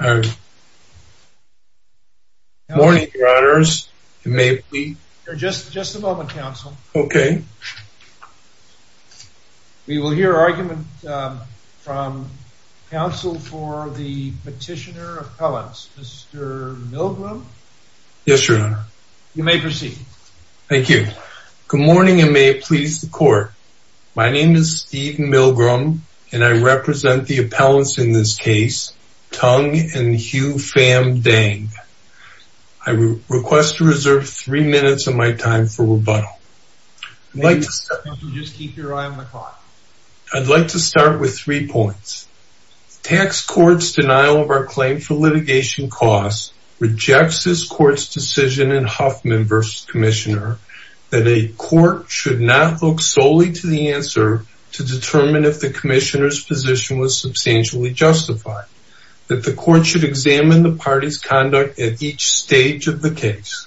Good morning your honors. You may please. Just a moment counsel. Okay. We will hear argument from counsel for the petitioner appellants. Mr. Milgram. Yes your honor. You may proceed. Thank you. Good morning and may it please the court. My name is Steve Milgram and I represent the appellants in this case Tung and Hugh Pham Dang. I request to reserve three minutes of my time for rebuttal. I'd like to start with three points. Tax court's denial of our claim for litigation costs rejects this court's decision in Huffman v. Commissioner that a court should not look solely to the answer to determine if the commissioner's position was substantially justified. That the court should examine the party's conduct at each stage of the case.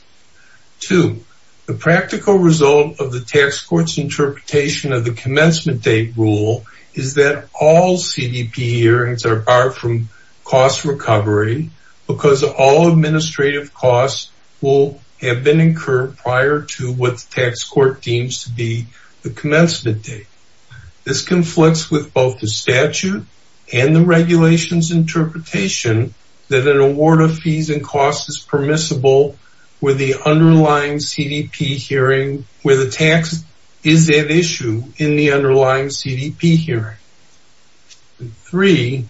Two, the practical result of the tax court's interpretation of the commencement date rule is that all CDP hearings are barred from cost recovery because all administrative costs will have been incurred prior to what the tax court deems to be the commencement date. This conflicts with both the statute and the regulations interpretation that an award of fees and costs is permissible with the underlying CDP hearing where the tax is at issue in the underlying CDP hearing. Three,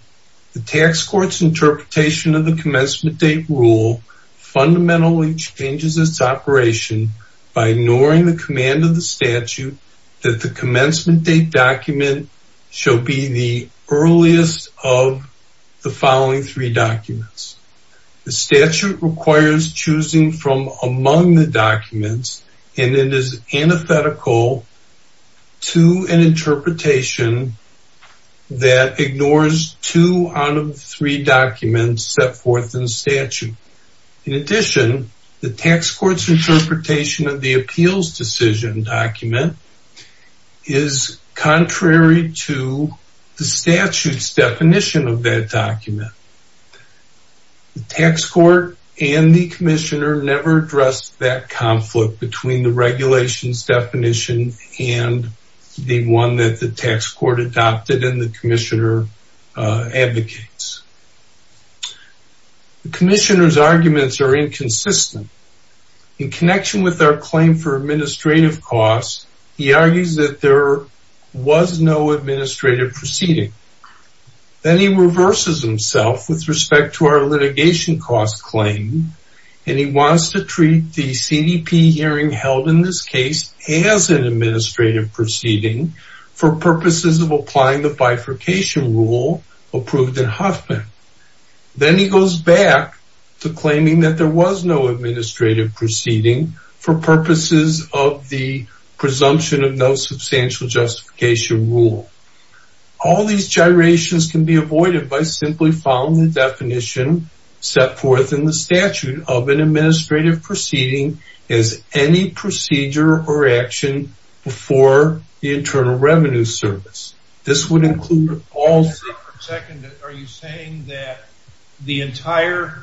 the tax court's interpretation of the commencement date rule fundamentally changes its operation by ignoring the command of the statute that the commencement date document shall be the earliest of the following three documents. The statute requires choosing from among the documents and it is antithetical to an interpretation that ignores two out of three documents set forth in the statute. In addition, the tax court's interpretation of the appeals decision document is contrary to the statute's definition of that document. The tax court and the commissioner never addressed that conflict between the regulations definition and the one that the tax court adopted and the commissioner advocates. The commissioner's arguments are inconsistent. In connection with our claim for administrative costs, he argues that there was no administrative proceeding. Then he reverses himself with respect to our litigation cost claim and he wants to treat the CDP hearing held in this case as an administrative proceeding for purposes of applying the bifurcation rule approved in Huffman. Then he goes back to claiming that there was no administrative proceeding for purposes of the presumption of no substantial justification rule. All these gyrations can be avoided by simply following the definition set forth in the statute of an administrative proceeding as any procedure or action before the Internal Revenue Service. This would include all... Are you saying that the entire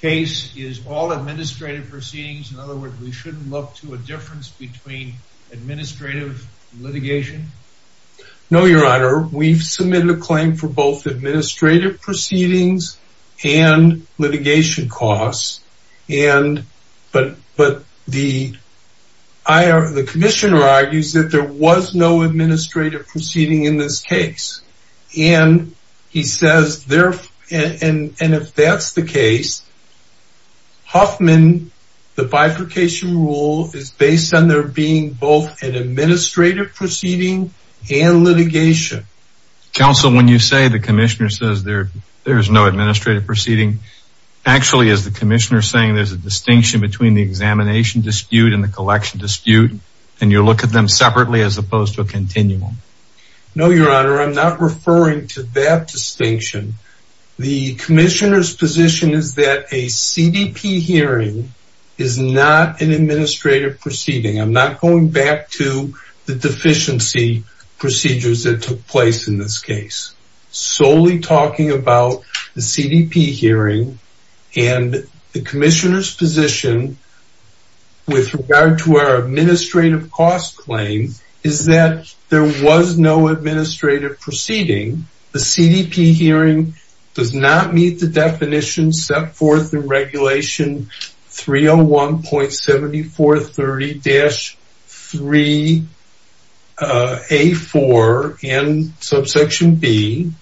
case is all administrative proceedings? In other words, we shouldn't look to a difference between administrative litigation? No, your honor. We've submitted a claim for both administrative proceedings and litigation costs, but the commissioner argues that there was no administrative proceeding in this case. He says, and if that's the case, Huffman, the bifurcation rule is based on there being both an administrative proceeding and litigation. Counsel, when you say the commissioner says there's no administrative proceeding, actually is the commissioner saying there's a distinction between the examination dispute and the collection dispute and you look at them separately as opposed to a continuum? No, your honor. I'm not referring to that distinction. The commissioner's position is that a CDP hearing is not an administrative proceeding. I'm not going back to the deficiency procedures that took place in this case. Solely talking about the CDP hearing and the commissioner's position with regard to our administrative cost claim is that there was no step forth in regulation 301.7430-3A4 and subsection B.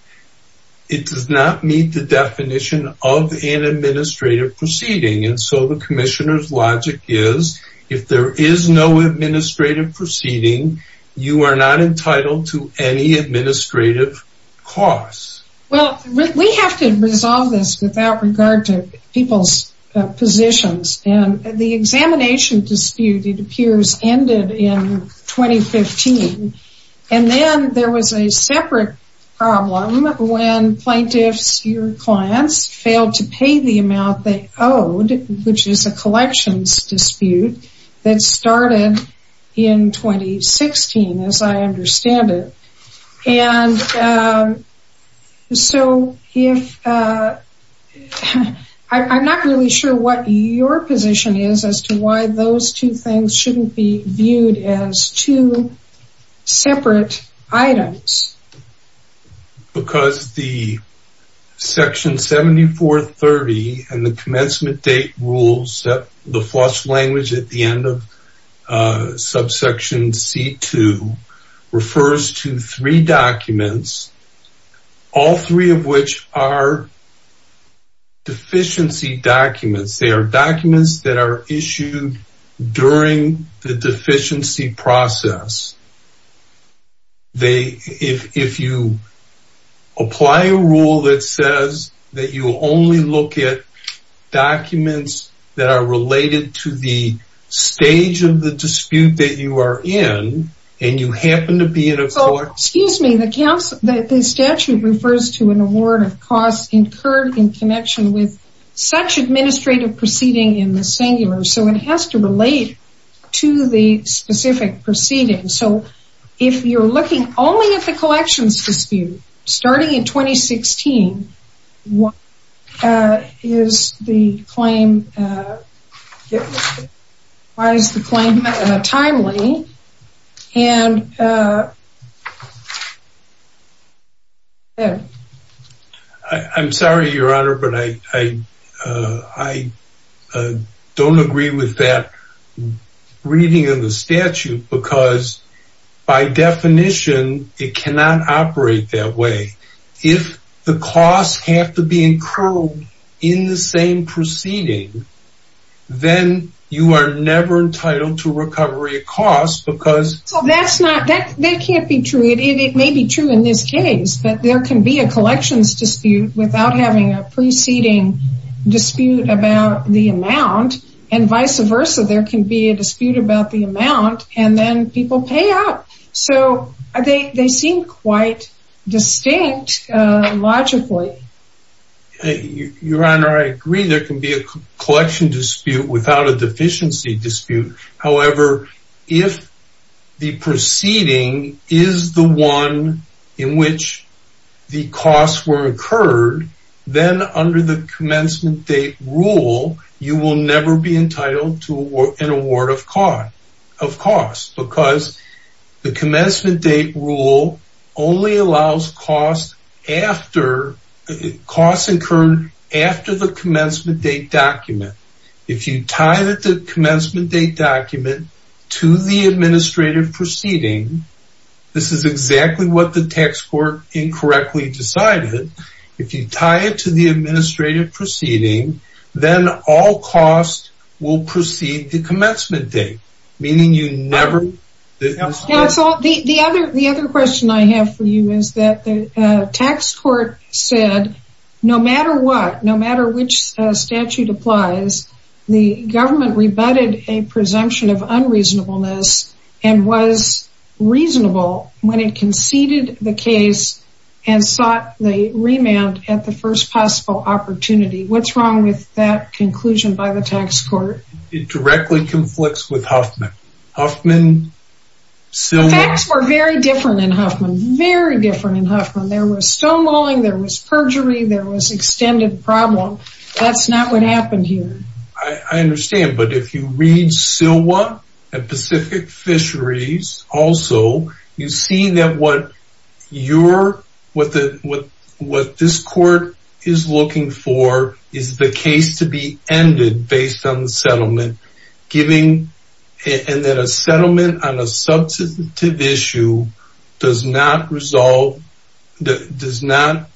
It does not meet the definition of an administrative proceeding. And so the commissioner's logic is if there is no administrative proceeding, you are not entitled to any administrative costs. Well, we have to resolve this without regard to people's positions. And the examination dispute, it appears, ended in 2015. And then there was a separate problem when plaintiffs, your clients, failed to pay the amount they owed, which is a collections dispute that started in 2016, as I understand it. And so if I'm not really sure what your position is as to why those two things shouldn't be viewed as two separate items. Because the section 7430 and the commencement date rules, the first language at the end of subsection C2, refers to three documents, all three of which are deficiency documents. They are documents that are issued during the that are related to the stage of the dispute that you are in and you happen to be in a court. Excuse me, the statute refers to an award of costs incurred in connection with such administrative proceeding in the singular. So it has to relate to the specific proceeding. So if you're looking only at the collections dispute starting in 2016, why is the claim timely? I'm sorry, your honor, but I don't agree with that reading of the statute because by definition it cannot operate that way. If the costs have to be incurred in the same proceeding, then you are never entitled to recovery of costs because... So that's not, that can't be true. It may be true in this case, but there can be a collections dispute without having a preceding dispute about the amount and vice versa. There can be a dispute about the amount and then people pay out. So they seem quite distinct logically. Your honor, I agree there can be a collection dispute without a deficiency dispute. However, if the proceeding is the one in which the costs were incurred, then under the commencement date rule, you will never be entitled to an award of costs because the commencement date rule only allows costs incurred after the commencement date document. If you tie the commencement date document to the administrative proceeding, this is exactly what the tax court incorrectly decided. If you tie it to the administrative proceeding, then all costs will precede the commencement date, meaning you never... The other question I have for you is that the tax court said no matter what, no matter which statute applies, the government rebutted a presumption of unreasonableness and was reasonable when it conceded the case and sought the remand at the first possible opportunity. What's wrong with that conclusion by the tax court? It directly conflicts with Huffman. Huffman... The facts were very different in Huffman, very different in Huffman. There was stonewalling, there was perjury, there was extended problem. That's not what happened here. I understand, but if you read SILWA and Pacific Fisheries also, you see that what this court is looking for is the case to be ended based on the settlement giving... And then a settlement on a substantive issue does not resolve... Does not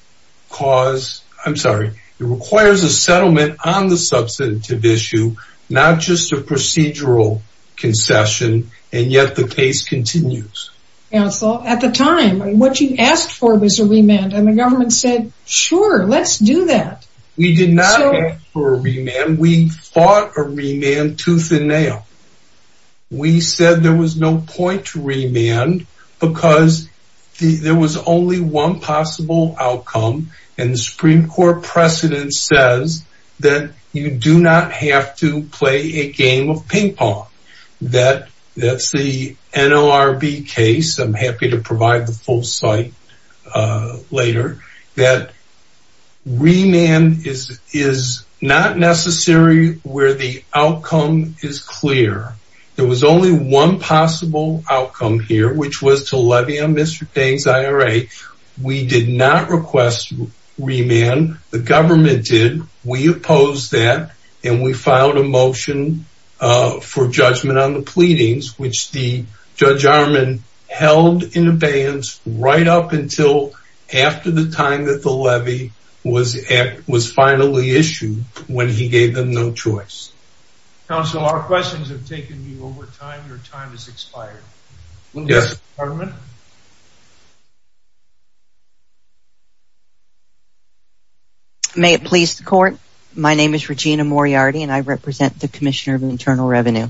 cause... I'm sorry. It requires a settlement on the substantive issue, not just a procedural concession, and yet the case continues. Counsel, at the time, what you asked for was a remand and the government said, sure, let's do that. We did not ask for a remand. We fought a remand tooth and nail. We said there was no point to remand because there was only one possible outcome, and the Supreme Court precedent says that you do not have to play a game of ping pong. That's the NLRB case. I'm happy to provide the full site later. That remand is not necessary where the outcome is clear. There was only one possible outcome here, which was to levy on Mr. Day's IRA. We did not request remand. The government did. We opposed that, and we filed a motion for judgment on the pleadings, which the Judge Arman held in abeyance right up until after the time that the levy was finally issued when he gave them no choice. Counsel, our questions have taken you over time. Your time has expired. May it please the court. My name is Regina Moriarty, and I represent the Commissioner of Internal Revenue.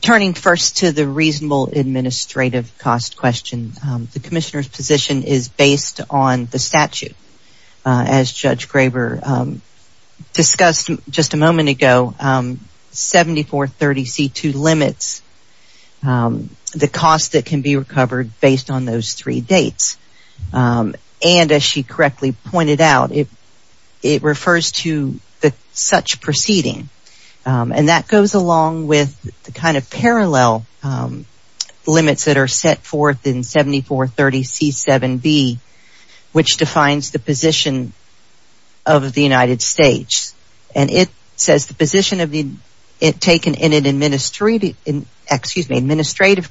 Turning first to the reasonable administrative cost question, the Commissioner's position is based on the statute. As Judge Graber discussed just a moment ago, 7430C2 limits the cost that can be recovered based on those three dates, and as she correctly pointed out, it refers to such proceeding, and that goes along with the kind of parallel limits that are set forth in 7430C7B, which defines the position of the United States, and it says the position of being taken in an administrative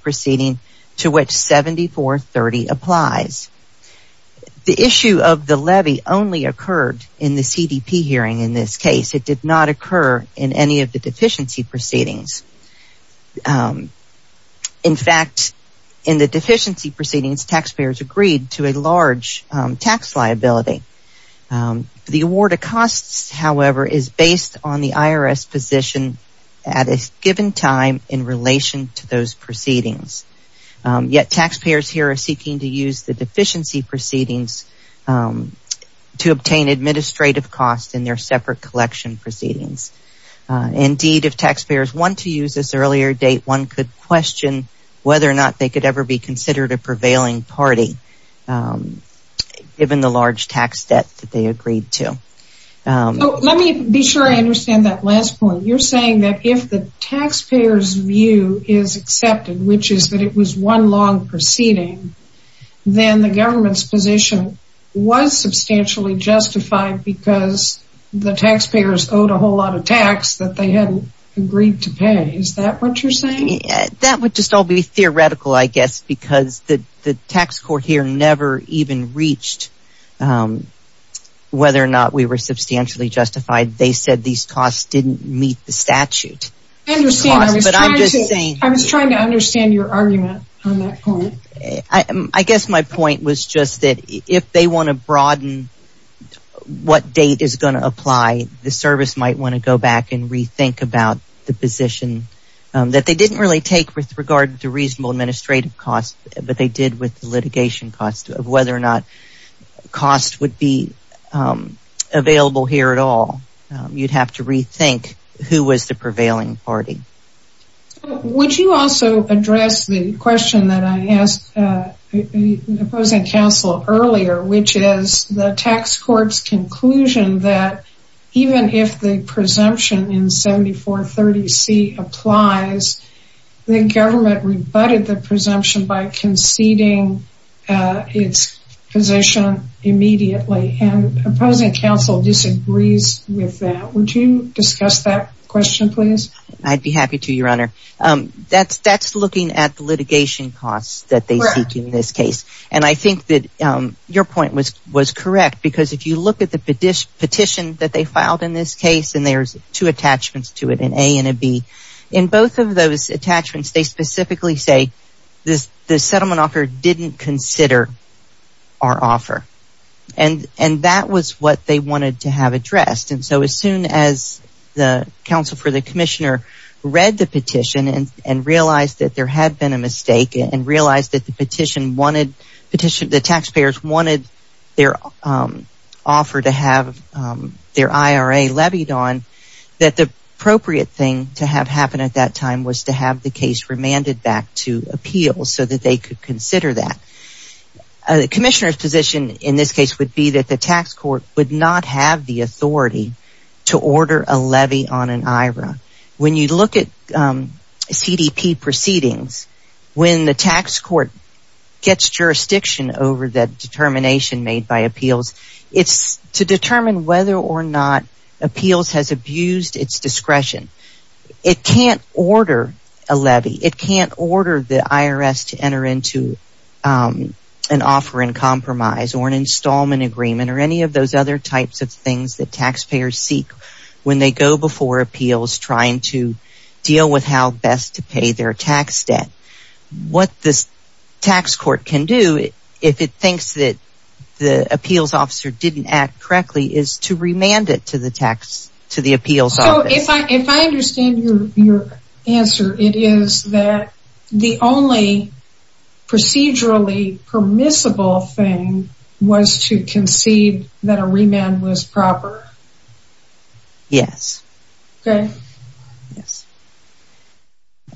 proceeding to which 7430 applies. The issue of the levy only occurred in the CDP hearing in this case. It did not occur in any of the deficiency proceedings. In fact, in the deficiency proceedings, taxpayers agreed to a large tax liability. The award of costs, however, is based on the IRS position at a given time in relation to those proceedings, yet taxpayers here are seeking to use the deficiency proceedings to obtain administrative costs in their separate collection proceedings. Indeed, if taxpayers want to use this earlier date, one could question whether or not they could ever be considered a prevailing party, given the large tax debt that they agreed to. Let me be sure I understand that last point. You're saying that if the taxpayer's view is accepted, which is that it was one long proceeding, then the government's position was substantially justified because the taxpayers owed a whole lot of tax that they hadn't agreed to pay. Is that what you're saying? That would just all be theoretical, I guess, because the tax court here never even reached whether or not we were substantially justified. They said these costs didn't meet the statute. I understand. I was trying to understand your argument on that point. I guess my point was just that if they want to broaden what date is going to apply, the service might want to go back and rethink about the position that they didn't really take with regard to reasonable administrative costs, but they did with litigation costs of whether or not costs would be available here at all. You'd have to rethink who was the prevailing party. Would you also address the question that I asked the opposing counsel earlier, which is the tax court's conclusion that even if the presumption in 7430C applies, the government rebutted the presumption by conceding its position immediately, and opposing counsel disagrees with that. Would you discuss that question, please? I'd be happy to, Your Honor. That's looking at the litigation costs that they see in this case, and I think that your point was correct because if you look at the petition that they filed in this case, and there's two attachments to it, an A and a B. In both of those attachments, they specifically say the settlement offer didn't consider our offer, and that was what they wanted to have addressed, and so as soon as the counsel for the commissioner read the petition and realized that there had been a mistake, and realized that the petition wanted, the taxpayers wanted their offer to have their IRA levied on, that the appropriate thing to have happen at that time was to have the case remanded back to appeals so that they could consider that. The commissioner's position in this case would be that the tax court would not have the authority to order a levy on an IRA. When you look at CDP proceedings, when the tax court gets jurisdiction over that determination made by appeals, it's to determine whether or not appeals has abused its discretion. It can't order a levy. It can't order the IRS to enter into an offer in compromise or an installment agreement or any of those other types of things that taxpayers seek when they go before appeals trying to deal with how best to pay their tax debt. What this tax court can do, if it thinks that the appeals officer didn't act correctly, is to remand it to the appeals office. So if I understand your answer, it is that the only procedurally permissible thing was to concede that a remand was proper? Yes. Okay. Yes.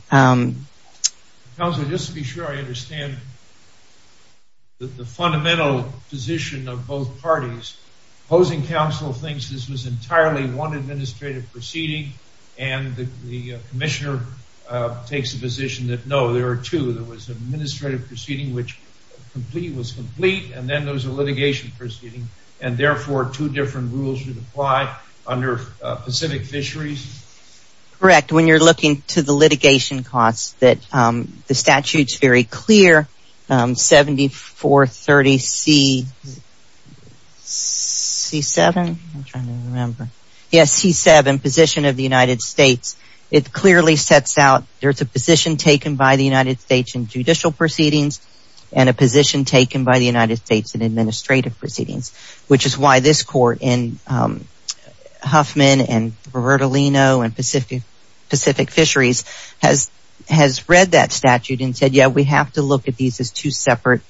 Counselor, just to be sure I understand the fundamental position of both parties, opposing counsel thinks this was entirely one administrative proceeding and the commissioner takes the position that no, there are two. There was an administrative proceeding which was complete and then there was a litigation proceeding and therefore two different rules would apply under Pacific Fisheries? Correct. When you're looking to the litigation costs, the statute is very clear, 7430C7, position of the United States, it clearly sets out there's a position taken by the United States in judicial proceedings and a position taken by the United States in administrative proceedings, which is why this court in Huffman and Roberto Lino and read that statute and said, yeah, we have to look at these as two separate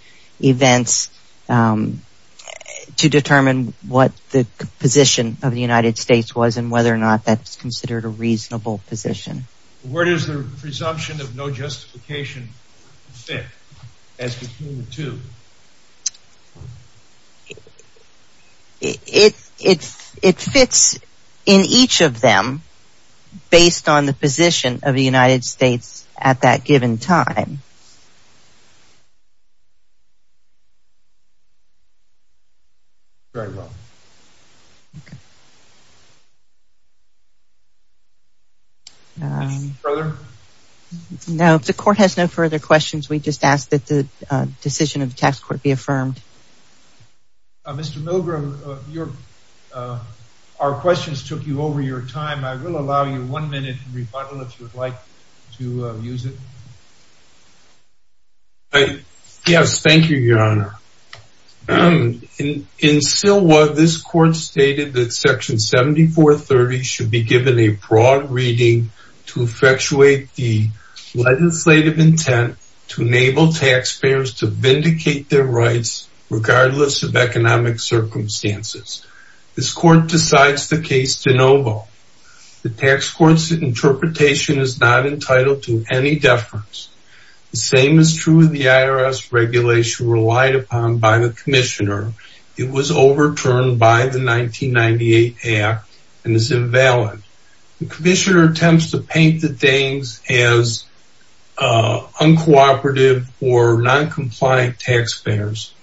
events to determine what the position of the United States was and whether or not that's considered a reasonable position. Where does the presumption of no justification fit as between the two? It fits in each of them based on the position of the United States at that given time. Very well. Okay. Further? No, the court has no further questions. We just asked that the decision of the tax court be affirmed. Mr. Milgram, our questions took you over your time. I will allow you one minute to rebuttal if you would like to use it. Yes, thank you, Your Honor. In SILWA, this court stated that section 7430 should be given a broad reading to effectuate the legislative intent to enable taxpayers to vindicate their rights, regardless of economic circumstances. This court decides the case de novo. The tax court's interpretation is not entitled to any deference. The same is true of the IRS regulation relied upon by the commissioner. It was overturned by the 1998 act and is invalid. The commissioner attempts to paint the Danes as uncooperative or non-compliant taxpayers.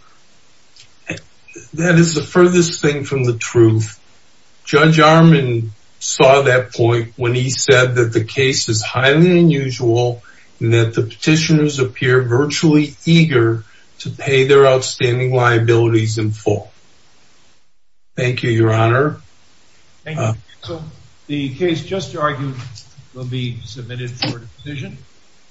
That is the furthest thing from the truth. Judge Armand saw that point when he said that the case is highly unusual and that the petitioners appear virtually eager to pay their outstanding liabilities in full. Thank you, Your Honor. The case just argued will be submitted for decision.